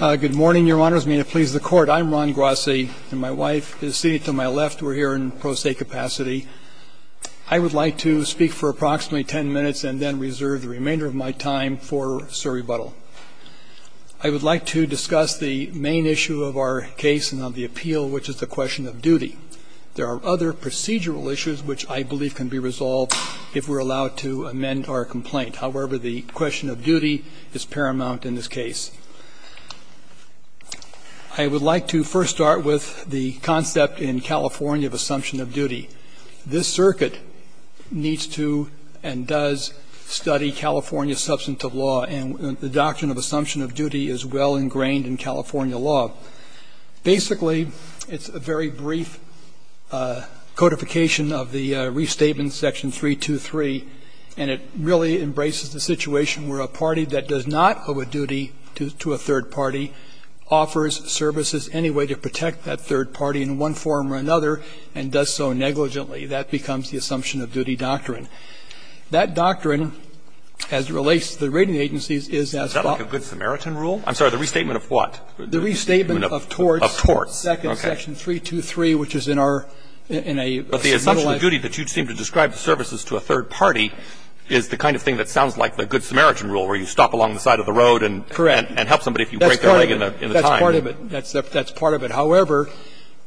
Good morning, your honors. May it please the court, I'm Ron Grassi and my wife is seated to my left. We're here in pro se capacity. I would like to speak for approximately 10 minutes and then reserve the remainder of my time for Sir rebuttal. I would like to discuss the main issue of our case and on the appeal, which is the question of duty. There are other procedural issues which I believe can be resolved if we're allowed to amend our complaint. However, the question of duty is paramount in this case. I would like to first start with the concept in California of assumption of duty. This circuit needs to and does study California substantive law. And the doctrine of assumption of duty is well ingrained in California law. Basically, it's a very brief codification of the restatement section 323, and it really embraces the situation where a party that does not owe a duty to a third party offers services anyway to protect that third party in one form or another and does so negligently. That becomes the assumption of duty doctrine. That doctrine, as it relates to the rating agencies, is as follows. Is that like a good Samaritan rule? I'm sorry, the restatement of what? The restatement of torts. Of torts. Okay. Second section 323, which is in our, in a substantialized. But the assumption of duty that you seem to describe the services to a third party is the kind of thing that sounds like the good Samaritan rule, where you stop along the side of the road and. Correct. And help somebody if you break their leg in the time. That's part of it. That's part of it. However,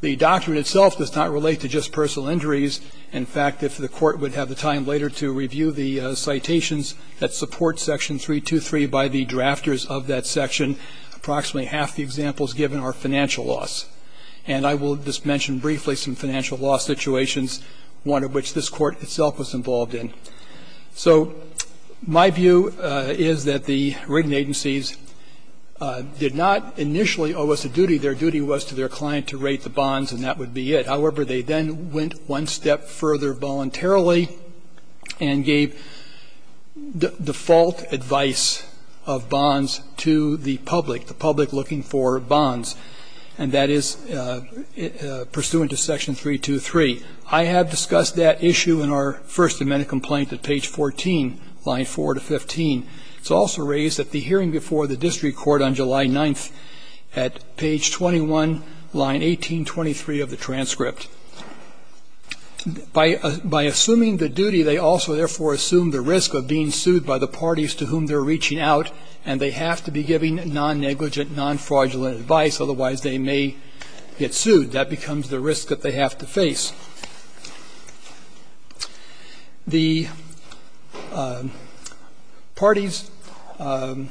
the doctrine itself does not relate to just personal injuries. In fact, if the Court would have the time later to review the citations that support section 323 by the drafters of that section, approximately half the examples given are financial loss. And I will just mention briefly some financial loss situations, one of which this Court itself was involved in. So my view is that the rating agencies did not initially owe us a duty. Their duty was to their client to rate the bonds, and that would be it. However, they then went one step further voluntarily and gave default advice of bonds to the public, the public looking for bonds. And that is pursuant to section 323. I have discussed that issue in our first amendment complaint at page 14, line 4 to 15. It's also raised at the hearing before the district court on July 9th at page 21, line 1823 of the transcript. By assuming the duty, they also therefore assume the risk of being sued by the parties to whom they're reaching out, and they have to be giving non-negligent, non-fraudulent advice. Otherwise, they may get sued. That becomes the risk that they have to face. The parties – I'll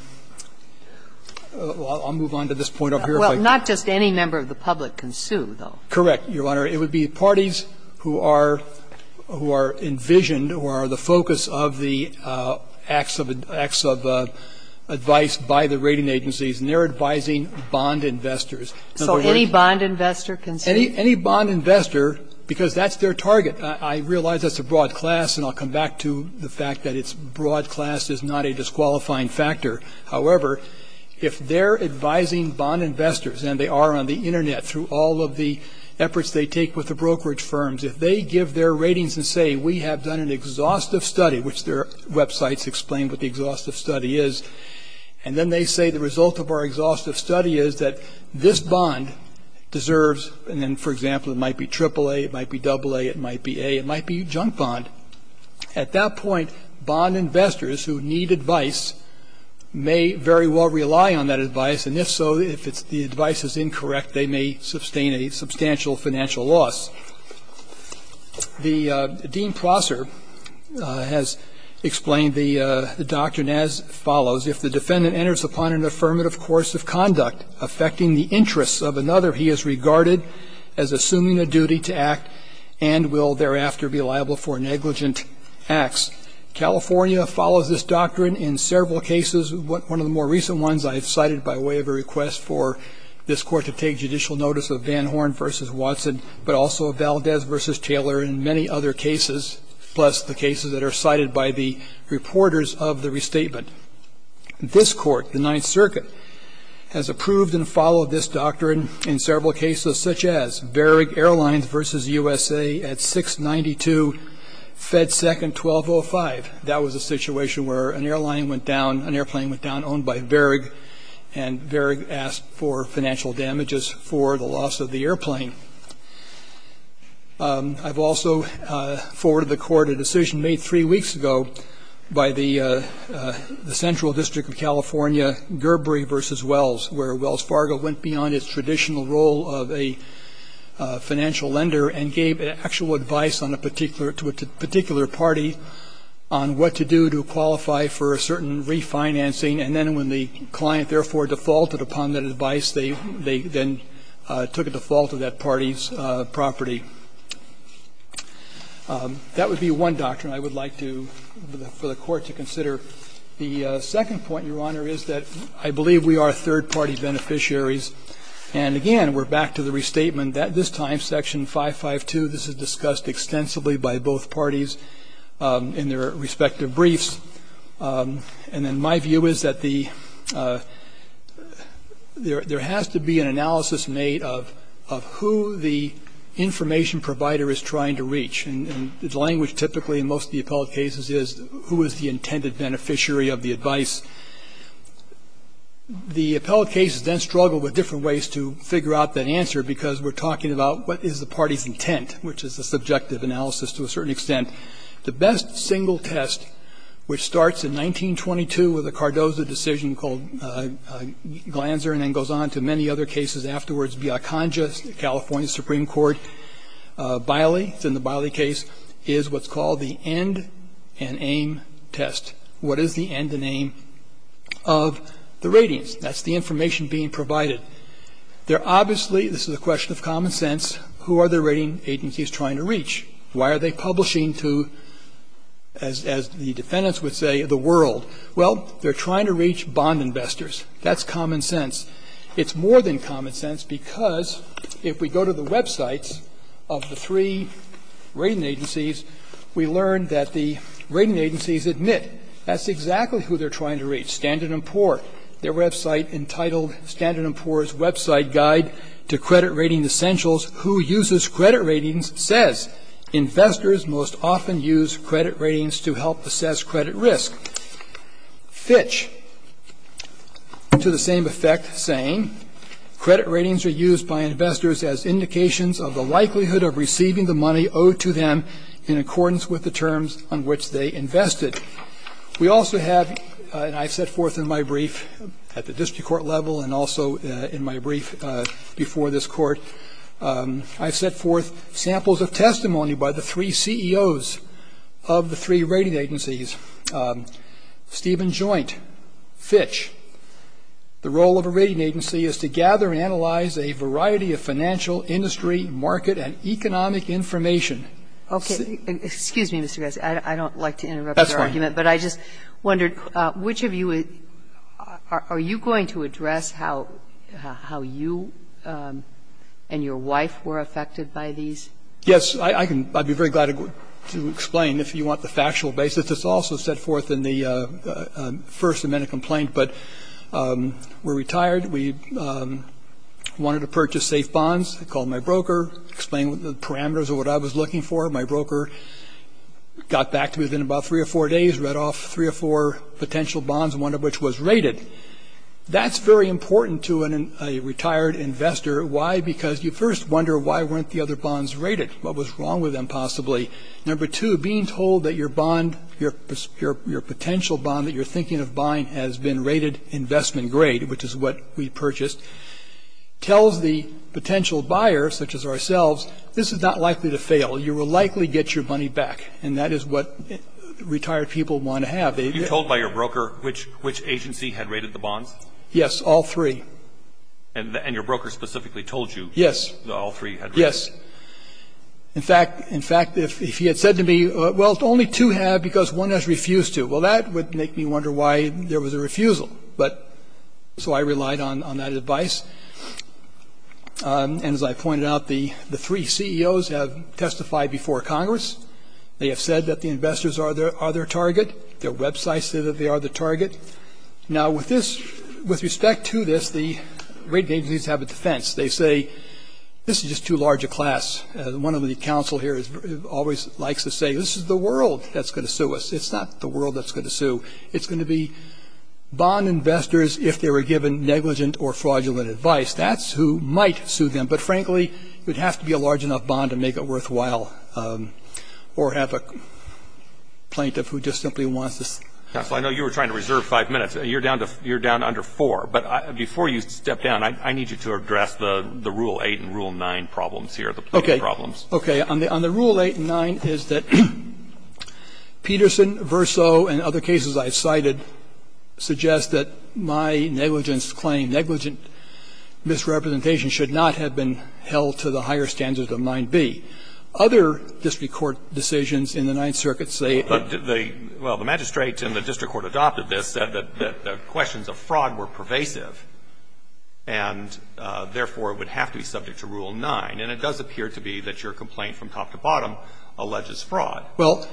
move on to this point over here. Well, not just any member of the public can sue, though. Correct, Your Honor. It would be parties who are envisioned, who are the focus of the acts of advice by the rating agencies, and they're advising bond investors. So any bond investor can sue? Any bond investor, because that's their target. I realize that's a broad class, and I'll come back to the fact that it's broad class is not a disqualifying factor. However, if they're advising bond investors, and they are on the Internet, through all of the efforts they take with the brokerage firms, if they give their ratings and say, we have done an exhaustive study, which their websites explain what the exhaustive study is, and then they say the result of our exhaustive study is that this bond deserves, and then, for example, it might be AAA, it might be AA, it might be A, it might be junk bond. At that point, bond investors who need advice may very well rely on that advice, and if so, if the advice is incorrect, they may sustain a substantial financial loss. Dean Prosser has explained the doctrine as follows. If the defendant enters upon an affirmative course of conduct affecting the interests of another, he is regarded as assuming a duty to act and will thereafter be liable for negligent acts. California follows this doctrine in several cases. One of the more recent ones I have cited by way of a request for this Court to take judicial notice of Van Horn v. Watson, but also of Valdez v. Taylor and many other cases, plus the cases that are cited by the reporters of the restatement. This Court, the Ninth Circuit, has approved and followed this doctrine in several cases, such as Varig Airlines v. USA at 692 Fed Second 1205. That was a situation where an airline went down, an airplane went down, owned by Varig, and Varig asked for financial damages for the loss of the airplane. I've also forwarded the Court a decision made three weeks ago by the Central District of California, Gerbery v. Wells, where Wells Fargo went beyond its traditional role of a financial lender and gave actual advice on a particular to a particular party on what to do to qualify for a certain refinancing. And then when the client therefore defaulted upon that advice, they then took a default of that party's property. That would be one doctrine I would like to, for the Court to consider. The second point, Your Honor, is that I believe we are third-party beneficiaries. And again, we're back to the restatement. This time, Section 552, this is discussed extensively by both parties in their respective briefs. And then my view is that there has to be an analysis made of who the information provider is trying to reach. And the language typically in most of the appellate cases is who is the intended beneficiary of the advice. The appellate cases then struggle with different ways to figure out that answer because we're talking about what is the party's intent, which is the subjective analysis to a certain extent. The best single test, which starts in 1922 with a Cardozo decision called Glanzer and then goes on to many other cases afterwards, Biaconga, California Supreme Court, Biley, it's in the Biley case, is what's called the end-and-aim test. What is the end-and-aim of the ratings? That's the information being provided. They're obviously, this is a question of common sense, who are the rating agencies trying to reach? Why are they publishing to, as the defendants would say, the world? Well, they're trying to reach bond investors. That's common sense. It's more than common sense because if we go to the websites of the three rating agencies, we learn that the rating agencies admit that's exactly who they're trying to reach, Standard & Poor. Their website entitled, Standard & Poor's Website Guide to Credit Rating Essentials, Who Uses Credit Ratings Says Investors Most Often Use Credit Ratings to Help Assess Credit Risk. Fitch, to the same effect, saying, Credit Ratings Are Used by Investors as Indications of the Likelihood of Receiving the Money Owed to Them in Accordance with the Terms on Which They Invested. We also have, and I've set forth in my brief at the district court level and also in my brief before this court, I've set forth samples of testimony by the three CEOs of the three rating agencies, Stephen Joint, Fitch. The role of a rating agency is to gather and analyze a variety of financial, industry, market, and economic information. Okay. Excuse me, Mr. Garza. I don't like to interrupt your argument. That's fine. But I just wondered, which of you are you going to address how you and your wife were affected by these? Yes. I'd be very glad to explain if you want the factual basis. It's also set forth in the first amendment complaint. But we're retired. We wanted to purchase safe bonds. I called my broker, explained the parameters of what I was looking for. My broker got back to me within about three or four days, read off three or four potential bonds, one of which was rated. That's very important to a retired investor. Why? Because you first wonder why weren't the other bonds rated? What was wrong with them possibly? Number two, being told that your bond, your potential bond that you're thinking of buying has been rated investment grade, which is what we purchased, tells the potential buyer, such as ourselves, this is not likely to fail. You will likely get your money back. And that is what retired people want to have. Were you told by your broker which agency had rated the bonds? Yes. All three. And your broker specifically told you? Yes. All three had rated? Yes. In fact, in fact, if he had said to me, well, only two have because one has refused to, well, that would make me wonder why there was a refusal. But so I relied on that advice. And as I pointed out, the three CEOs have testified before Congress. They have said that the investors are their target. Their websites say that they are the target. Now, with this, with respect to this, the rating agencies have a defense. They say this is just too large a class. One of the counsel here always likes to say this is the world that's going to sue us. It's not the world that's going to sue. It's going to be bond investors if they were given negligent or fraudulent advice. That's who might sue them. But, frankly, it would have to be a large enough bond to make it worthwhile or have a plaintiff who just simply wants to see. Counsel, I know you were trying to reserve five minutes. You're down under four. But before you step down, I need you to address the Rule 8 and Rule 9 problems here, the plaintiff problems. Okay. On the Rule 8 and 9 is that Peterson, Verso, and other cases I have cited suggest that my negligence claim, negligent misrepresentation, should not have been held to the higher standards of 9b. Other district court decisions in the Ninth Circuit say that the ---- Well, the magistrate in the district court adopted this, said that the questions of fraud were pervasive and, therefore, it would have to be subject to Rule 9. And it does appear to be that your complaint from top to bottom alleges fraud. Well,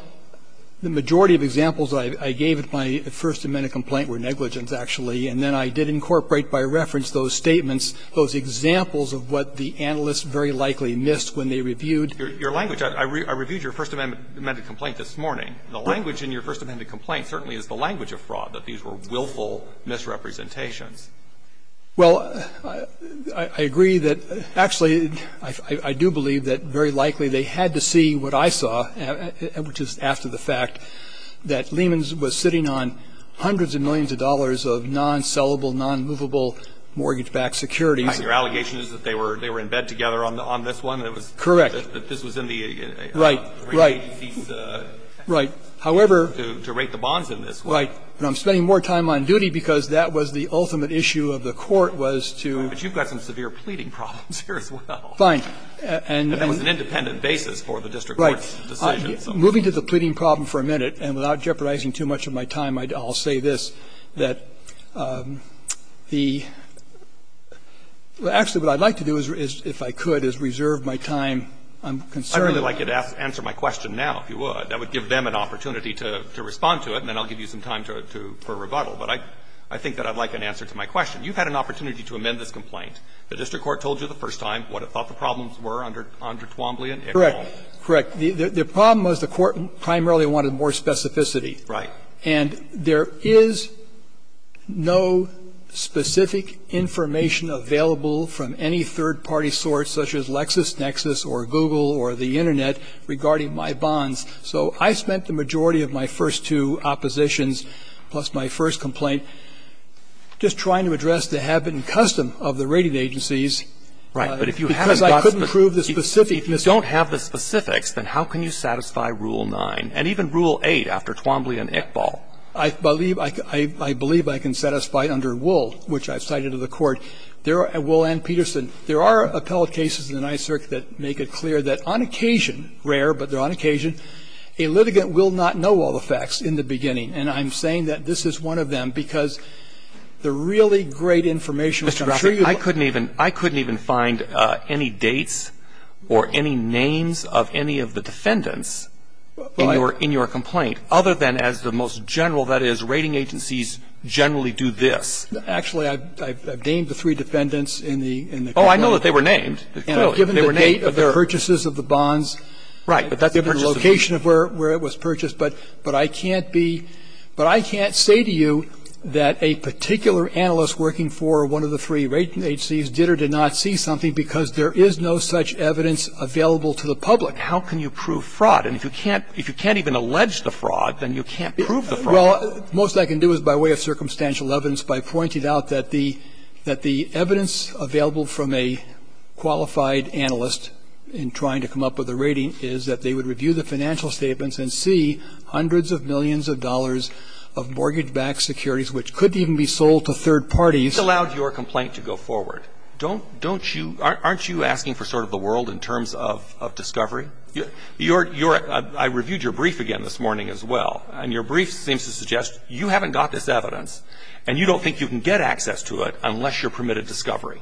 the majority of examples I gave of my First Amendment complaint were negligence, actually. And then I did incorporate by reference those statements, those examples of what the analysts very likely missed when they reviewed ---- Your language. I reviewed your First Amendment complaint this morning. The language in your First Amendment complaint certainly is the language of fraud, that these were willful misrepresentations. Well, I agree that, actually, I do believe that very likely they had to see what I saw, which is after the fact, that Lehmans was sitting on hundreds of millions of dollars of non-sellable, non-movable mortgage-backed securities. Your allegation is that they were in bed together on this one? Correct. That this was in the ---- Right, right. Right. However ---- To rate the bonds in this one. But I'm spending more time on duty because that was the ultimate issue of the court was to ---- But you've got some severe pleading problems here as well. Fine. And ---- And that was an independent basis for the district court's decision. Right. Moving to the pleading problem for a minute, and without jeopardizing too much of my time, I'll say this, that the ---- well, actually, what I'd like to do is, if I could, is reserve my time. I'm concerned that ---- I'd really like you to answer my question now, if you would. That would give them an opportunity to respond to it, and then I'll give you some time to ---- for rebuttal. But I think that I'd like an answer to my question. You've had an opportunity to amend this complaint. The district court told you the first time what it thought the problems were under Twombly and Ickes Hall. Correct. The problem was the court primarily wanted more specificity. Right. And there is no specific information available from any third-party source, such as LexisNexis or Google or the Internet, regarding my bonds. So I spent the majority of my first two oppositions, plus my first complaint, just trying to address the habit and custom of the rating agencies. Right. But if you haven't got ---- Because I couldn't prove the specificness. If you don't have the specifics, then how can you satisfy Rule 9? And even Rule 8, after Twombly and Ickes Hall. I believe ---- I believe I can satisfy under Wool, which I've cited to the Court. There are ---- Wool and Peterson. There are appellate cases in the Ninth Circuit that make it clear that on occasion ---- rare, but they're on occasion. A litigant will not know all the facts in the beginning. And I'm saying that this is one of them, because the really great information which I'm sure you will ---- Mr. Graffert, I couldn't even find any dates or any names of any of the defendants in your complaint, other than as the most general, that is, rating agencies generally do this. Actually, I've named the three defendants in the complaint. Oh, I know that they were named. Clearly. They were named. The date of the purchases of the bonds, the location of where it was purchased. But I can't be ---- but I can't say to you that a particular analyst working for one of the three rating agencies did or did not see something because there is no such evidence available to the public. How can you prove fraud? And if you can't even allege the fraud, then you can't prove the fraud. Well, the most I can do is, by way of circumstantial evidence, by pointing out that the evidence available from a qualified analyst in trying to come up with a rating is that they would review the financial statements and see hundreds of millions of dollars of mortgage-backed securities, which could even be sold to third parties. This allowed your complaint to go forward. Don't you ---- aren't you asking for sort of the world in terms of discovery? I reviewed your brief again this morning as well, and your brief seems to suggest you haven't got this evidence, and you don't think you can get access to it unless you're permitted discovery.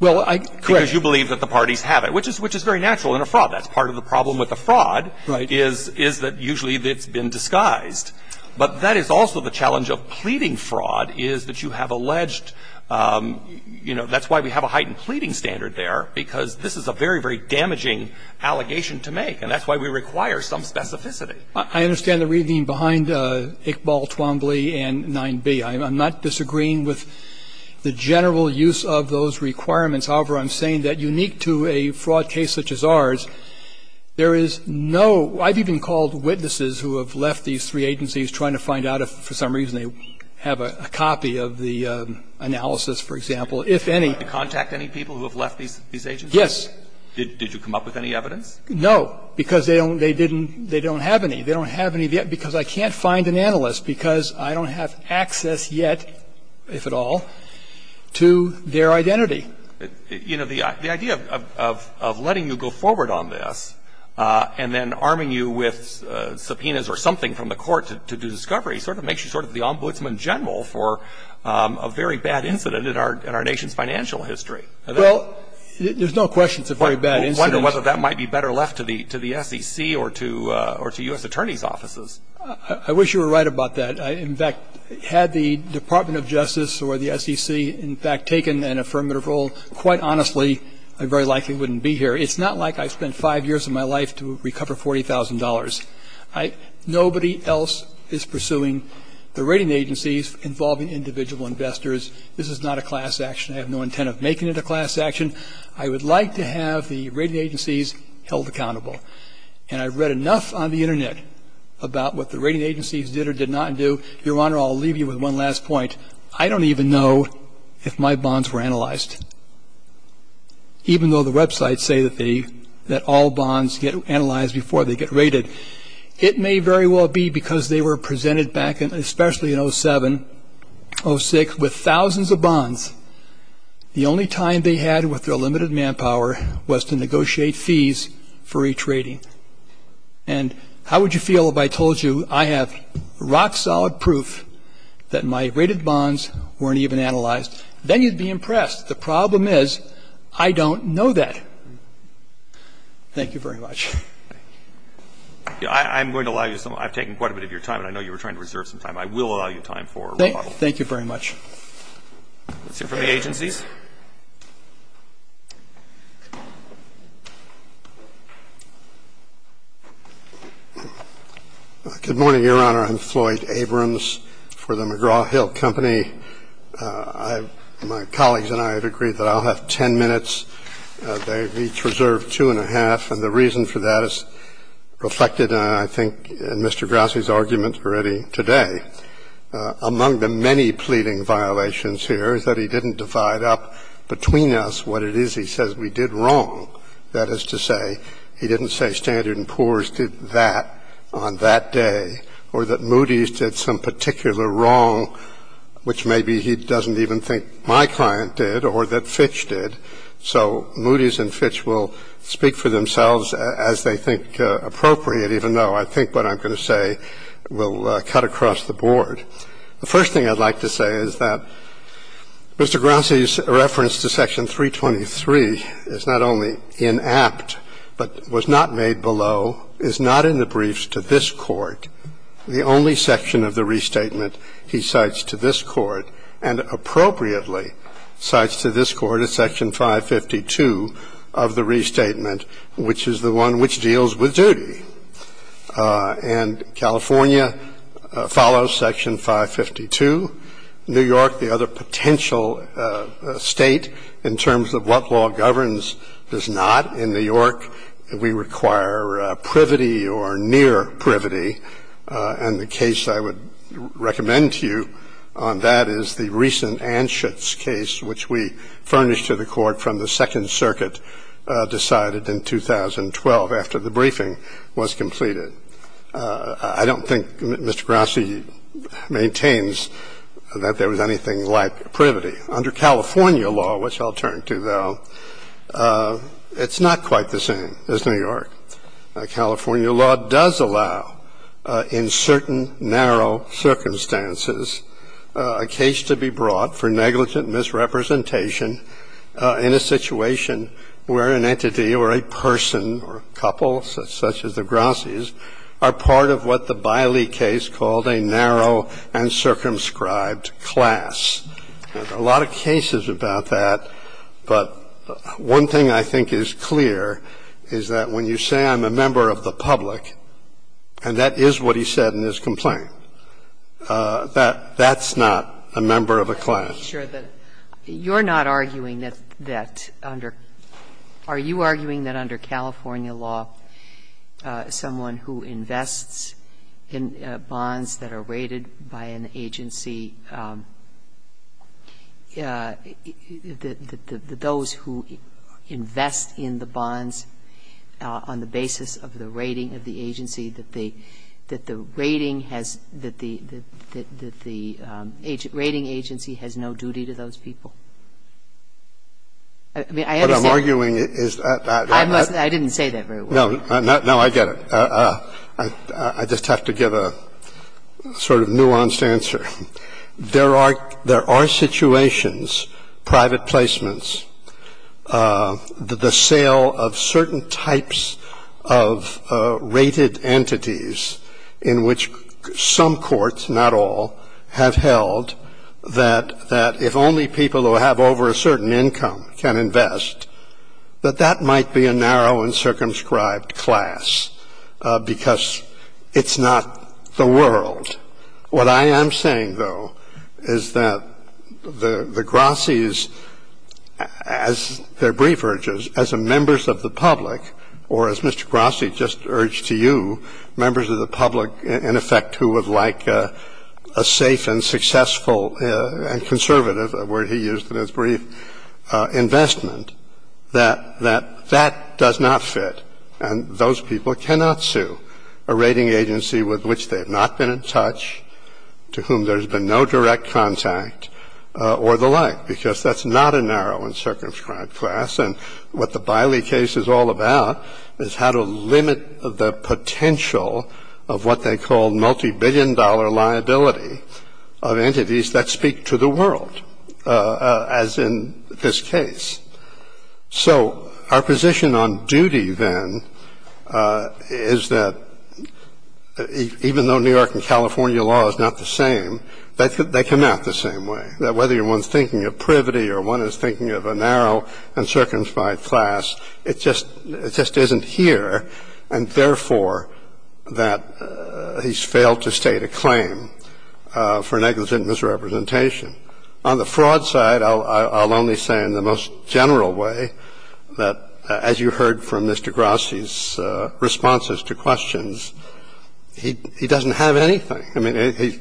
Well, I ---- Correct. Because you believe that the parties have it, which is very natural in a fraud. That's part of the problem with the fraud is that usually it's been disguised. But that is also the challenge of pleading fraud, is that you have alleged ---- you know, that's why we have a heightened pleading standard there, because this is a very, very damaging allegation to make, and that's why we require some specificity. I understand the reasoning behind Iqbal, Twombly, and 9b. I'm not disagreeing with the general use of those requirements. However, I'm saying that unique to a fraud case such as ours, there is no ---- I've even called witnesses who have left these three agencies trying to find out if for some reason they have a copy of the analysis, for example, if any. Did you contact any people who have left these agencies? Did you come up with any evidence? No, because they don't ---- they didn't ---- they don't have any. They don't have any because I can't find an analyst because I don't have access yet, if at all, to their identity. You know, the idea of letting you go forward on this and then arming you with subpoenas or something from the court to do discovery sort of makes you sort of the ombudsman general for a very bad incident in our nation's financial history. Well, there's no question it's a very bad incident. I wonder whether that might be better left to the SEC or to U.S. Attorney's offices. I wish you were right about that. In fact, had the Department of Justice or the SEC, in fact, taken an affirmative role, quite honestly, I very likely wouldn't be here. It's not like I spent five years of my life to recover $40,000. Nobody else is pursuing the rating agencies involving individual investors. This is not a class action. I have no intent of making it a class action. I would like to have the rating agencies held accountable. And I've read enough on the Internet about what the rating agencies did or did not do. Your Honor, I'll leave you with one last point. I don't even know if my bonds were analyzed, even though the websites say that all bonds get analyzed before they get rated. It may very well be because they were presented back, especially in 07, 06, with thousands of bonds. The only time they had with their limited manpower was to negotiate fees for each rating. And how would you feel if I told you I have rock-solid proof that my rated bonds weren't even analyzed? Then you'd be impressed. The problem is, I don't know that. Thank you very much. I'm going to allow you some time. I've taken quite a bit of your time, and I know you were trying to reserve some time. I will allow you time for remodeling. Thank you very much. Let's hear from the agencies. Good morning, Your Honor. I'm Floyd Abrams for the McGraw-Hill Company. My colleagues and I have agreed that I'll have ten minutes. They've each reserved two and a half, and the reason for that is reflected, I think, in Mr. Grassi's argument already today. Among the many pleading violations here is that he didn't divide up between us what it is he says we did wrong. That is to say, he didn't say Standard & Poor's did that on that day or that Moody's did some particular wrong, which maybe he doesn't even think my client did or that Fitch did. So Moody's and Fitch will speak for themselves as they think appropriate, even though I think what I'm going to say will cut across the board. The first thing I'd like to say is that Mr. Grassi's reference to Section 323 is not only inapt but was not made below, is not in the briefs to this Court. The only section of the restatement he cites to this Court and appropriately cites to this Court is Section 552 of the restatement, which is the one which deals with duty. And California follows Section 552. New York, the other potential state in terms of what law governs, does not. In New York, we require privity or near privity, and the case I would recommend to you on that is the recent Anschutz case, which we furnished to the Court from the Second Circuit, decided in 2012 after the briefing was completed. I don't think Mr. Grassi maintains that there was anything like privity. Under California law, which I'll turn to, though, it's not quite the same as New York. California law does allow in certain narrow circumstances a case to be brought up for negligent misrepresentation in a situation where an entity or a person or a couple such as the Grassi's are part of what the Biley case called a narrow and circumscribed class. There are a lot of cases about that, but one thing I think is clear is that when you say I'm a member of the public, and that is what he said in his complaint, that's not a member of a class. Sotomayor, you're not arguing that under – are you arguing that under California law someone who invests in bonds that are rated by an agency, those who invest in the bonds on the basis of the rating of the agency, that they – that the rating agency has no duty to those people? I mean, I understand that. What I'm arguing is that I must not – I didn't say that very well. No. No, I get it. I just have to give a sort of nuanced answer. There are situations, private placements, the sale of certain types of rated entities in which some courts, not all, have held that if only people who have over a certain income can invest, that that might be a narrow and circumscribed class because it's not the world. What I am saying, though, is that the Grosse's, as their brief urges, as members of the public, or as Mr. Grosse just urged to you, members of the public, in effect, who would like a safe and successful and conservative, a word he used in his brief, investment, that that does not fit. And those people cannot sue a rating agency with which they have not been in touch, to whom there has been no direct contact, or the like, because that's not a narrow and circumscribed class. And what the Biley case is all about is how to limit the potential of what they call multibillion-dollar liability of entities that speak to the world, as in this case. So our position on duty, then, is that even though New York and California law is not the same, they come out the same way, that whether one is thinking of privity or one is thinking of a narrow and circumscribed class, it just isn't here, and therefore that he's failed to state a claim for negligent misrepresentation. On the fraud side, I'll only say in the most general way that, as you heard from Mr. Grosse's responses to questions, he doesn't have anything. I mean,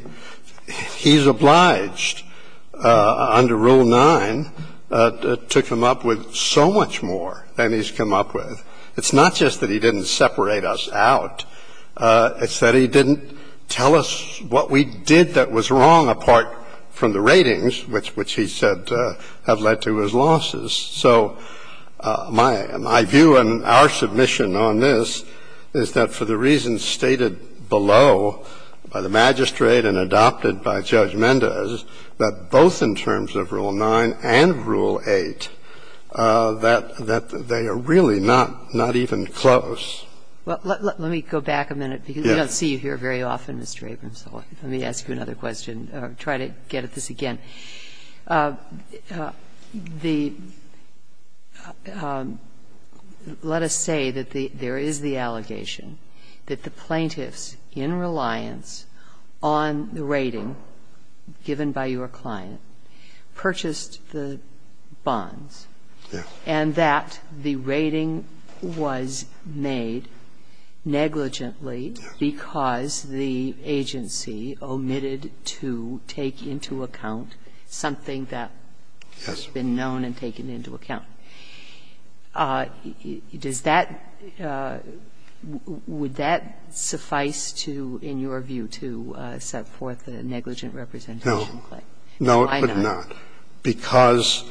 he's obliged under Rule 9 to come up with so much more than he's come up with. It's not just that he didn't separate us out. It's that he didn't tell us what we did that was wrong apart from the ratings, which he said have led to his losses. So my view in our submission on this is that for the reasons stated below by the magistrate and adopted by Judge Mendez, that both in terms of Rule 9 and Rule 8, that they are really not, not even close. Well, let me go back a minute, because we don't see you here very often, Mr. Abrams. Let me ask you another question, try to get at this again. Let us say that there is the allegation that the plaintiffs, in reliance on the rating given by your client, purchased the bonds and that the rating was made negligently because the agency omitted to take into account something that has been known and taken into account. Does that – would that suffice to, in your view, to set forth a negligent representation claim? No, it would not. Why not? Because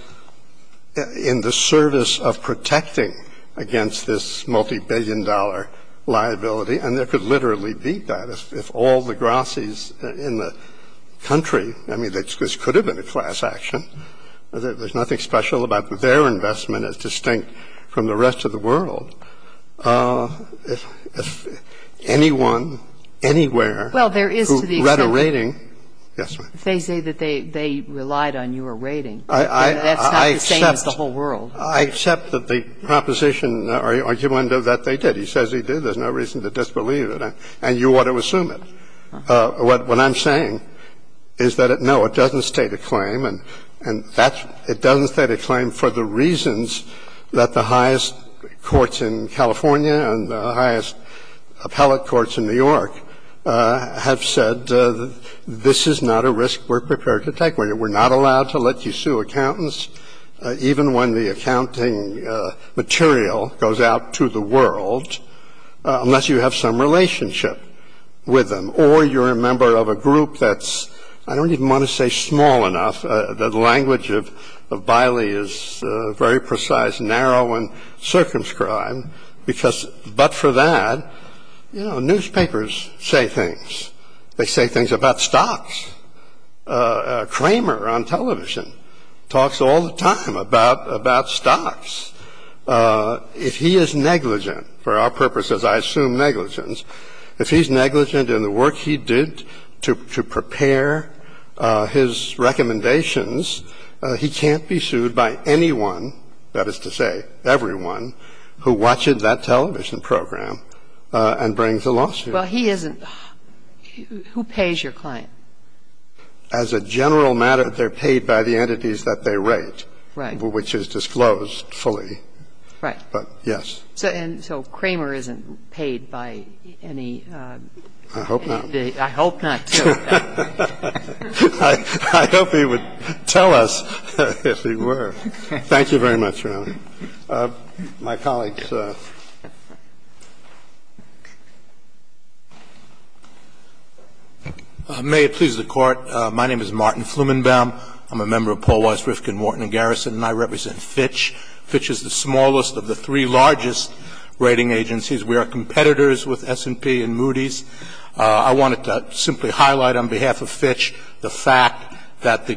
in the service of protecting against this multibillion-dollar liability, and there could literally be that if all the grosses in the country – I mean, this could have been a class action, there's nothing special about their investment as distinct from the rest of the world – if anyone, anywhere who read a rating – yes, ma'am. They say that they relied on your rating. I mean, that's not the same as the whole world. I accept that the proposition or the argument of that they did. He says he did. There's no reason to disbelieve it. And you ought to assume it. What I'm saying is that, no, it doesn't state a claim, and that's – it doesn't state a claim for the reasons that the highest courts in California and the highest appellate courts in New York have said this is not a risk we're prepared to take. We're not allowed to let you sue accountants, even when the accounting material goes out to the world, unless you have some relationship with them, or you're a member of a group that's – I don't even want to say small enough. The language of Biley is very precise, narrow, and circumscribed, because but for that, you know, newspapers say things. They say things about stocks. Kramer on television talks all the time about stocks. If he is negligent, for our purposes I assume negligence, if he's negligent in the work he did to prepare his recommendations, he can't be sued by anyone, that is to say everyone, who watched that television program and brings a lawsuit. Well, he isn't – who pays your client? As a general matter, they're paid by the entities that they rate. Right. Which is disclosed fully. Right. But, yes. So Kramer isn't paid by any – I hope not. I hope not. I hope he would tell us if he were. Thank you very much, Your Honor. My colleagues. May it please the Court. My name is Martin Flumenbaum. I'm a member of Paul Weiss, Rifkin, Wharton & Garrison, and I represent Fitch. Fitch is the smallest of the three largest rating agencies. We are competitors with S&P and Moody's. I wanted to simply highlight on behalf of Fitch the fact that the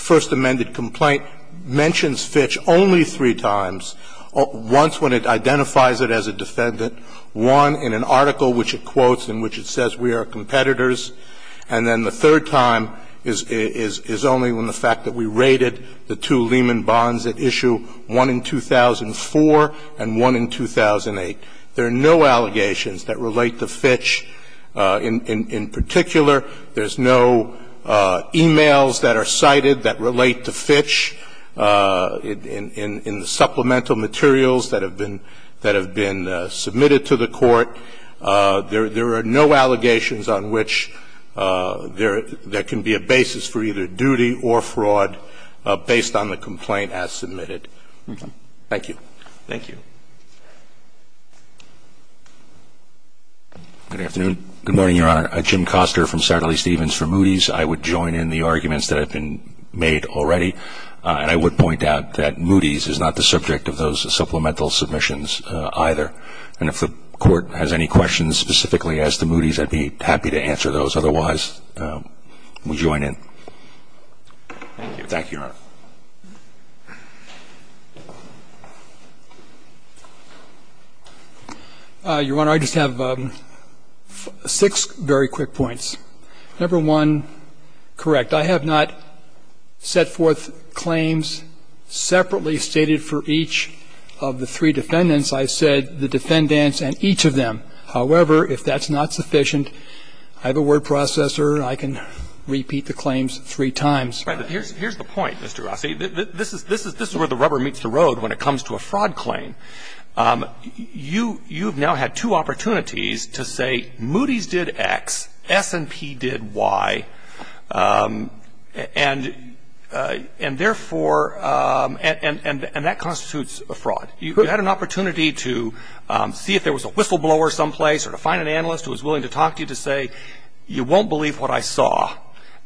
first amended complaint mentions Fitch only three times, once when it identifies it as a defendant, one in an article which it quotes in which it says we are competitors, and then the third time is only when the fact that we rated the two Lehman Bonds at issue one in 2004 and one in 2008. There are no allegations that relate to Fitch in particular. There's no e-mails that are cited that relate to Fitch in the supplemental materials that have been submitted to the Court. There are no allegations on which there can be a basis for either duty or fraud based on the complaint as submitted. Thank you. Good afternoon. Good morning, Your Honor. I'm Jim Koster from Satterley Stevens for Moody's. I would join in the arguments that have been made already, and I would point out that Moody's is not the subject of those supplemental submissions either. And if the Court has any questions specifically as to Moody's, I'd be happy to answer those. Otherwise, we'll join in. Thank you. Thank you, Your Honor. Your Honor, I just have six very quick points. Number one, correct. I have not set forth claims separately stated for each of the three defendants. I said the defendants and each of them. However, if that's not sufficient, I have a word processor. I can repeat the claims three times. Right. But here's the point, Mr. Rossi. This is where the rubber meets the road when it comes to a fraud claim. You've now had two opportunities to say Moody's did X, S&P did Y, and therefore and that constitutes a fraud. You had an opportunity to see if there was a whistleblower someplace or to find an analyst who was willing to talk to you to say you won't believe what I saw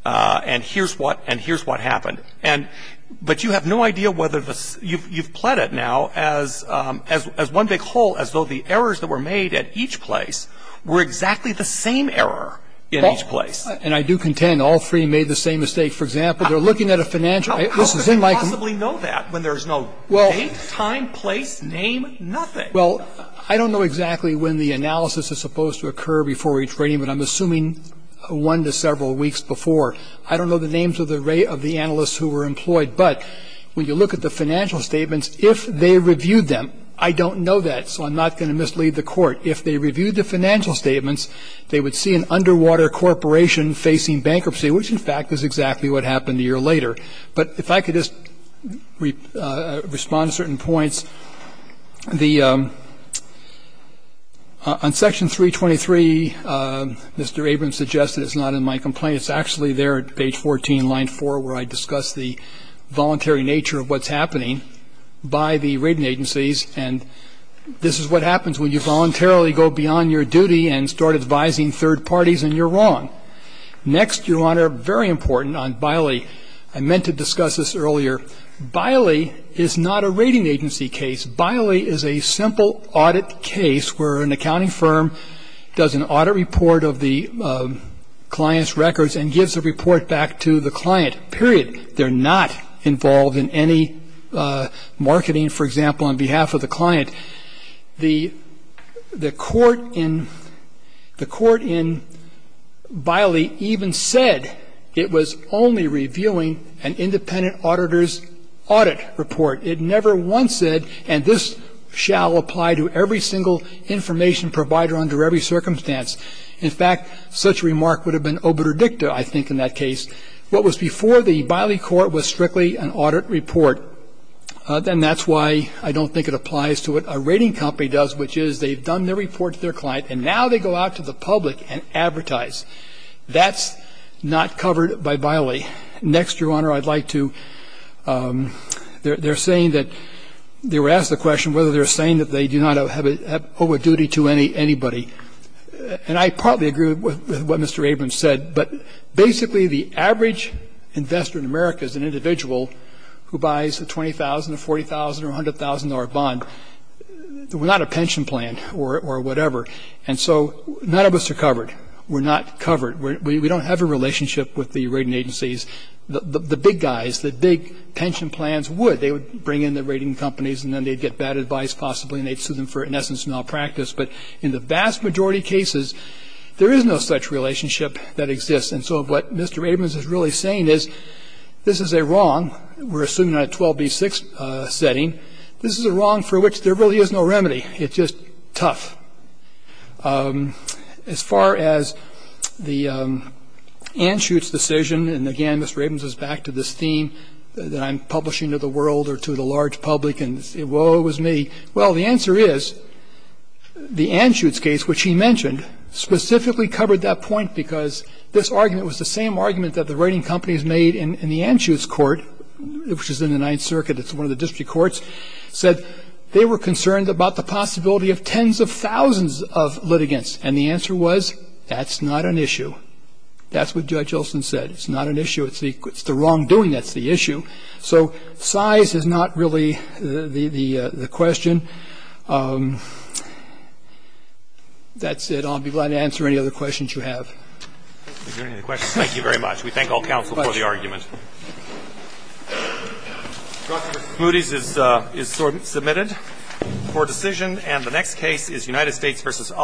and here's what happened. But you have no idea whether you've pled it now as one big hole as though the errors that were made at each place were exactly the same error in each place. And I do contend all three made the same mistake. For example, they're looking at a financial. How could they possibly know that when there's no date, time, place, name, nothing? Well, I don't know exactly when the analysis is supposed to occur before each rating, but I'm assuming one to several weeks before. I don't know the names of the analysts who were employed, but when you look at the financial statements, if they reviewed them, I don't know that, so I'm not going to mislead the Court. If they reviewed the financial statements, they would see an underwater corporation facing bankruptcy, which, in fact, is exactly what happened a year later. But if I could just respond to certain points. On Section 323, Mr. Abrams suggested it's not in my complaint. It's actually there at page 14, line 4, where I discuss the voluntary nature of what's happening by the rating agencies. And this is what happens when you voluntarily go beyond your duty and start advising third parties, and you're wrong. Next, Your Honor, very important on Biley. I meant to discuss this earlier. Biley is not a rating agency case. Biley is a simple audit case where an accounting firm does an audit report of the client's records and gives the report back to the client, period. They're not involved in any marketing, for example, on behalf of the client. The Court in Biley even said it was only reviewing an independent auditor's audit report. It never once said, and this shall apply to every single information provider under every circumstance. In fact, such remark would have been obitur dicta, I think, in that case. What was before the Biley Court was strictly an audit report. Then that's why I don't think it applies to what a rating company does, which is they've done their report to their client, and now they go out to the public and advertise. That's not covered by Biley. Next, Your Honor, I'd like to ‑‑ they're saying that ‑‑ they were asked the question whether they're saying that they do not owe a duty to anybody. And I partly agree with what Mr. Abrams said, but basically the average investor in America is an individual who buys a $20,000 or $40,000 or $100,000 bond. We're not a pension plan or whatever. And so none of us are covered. We're not covered. We don't have a relationship with the rating agencies. The big guys, the big pension plans would. They would bring in the rating companies, and then they'd get bad advice, possibly, and they'd sue them for, in essence, malpractice. But in the vast majority of cases, there is no such relationship that exists. And so what Mr. Abrams is really saying is this is a wrong. We're assuming a 12B6 setting. This is a wrong for which there really is no remedy. It's just tough. As far as the Anschutz decision, and, again, Mr. Abrams is back to this theme that I'm publishing to the world or to the large public and, whoa, it was me. Well, the answer is the Anschutz case, which he mentioned, specifically covered that point because this argument was the same argument that the rating companies made in the Anschutz court, which is in the Ninth Circuit. It's one of the district courts, said they were concerned about the possibility of tens of thousands of litigants. And the answer was that's not an issue. That's what Judge Olson said. It's not an issue. It's the wrongdoing that's the issue. So size is not really the question. That's it. I'll be glad to answer any other questions you have. Are there any other questions? Thank you very much. We thank all counsel for the argument. Justice Smoody is submitted for decision. And the next case is United States v. Alcantara.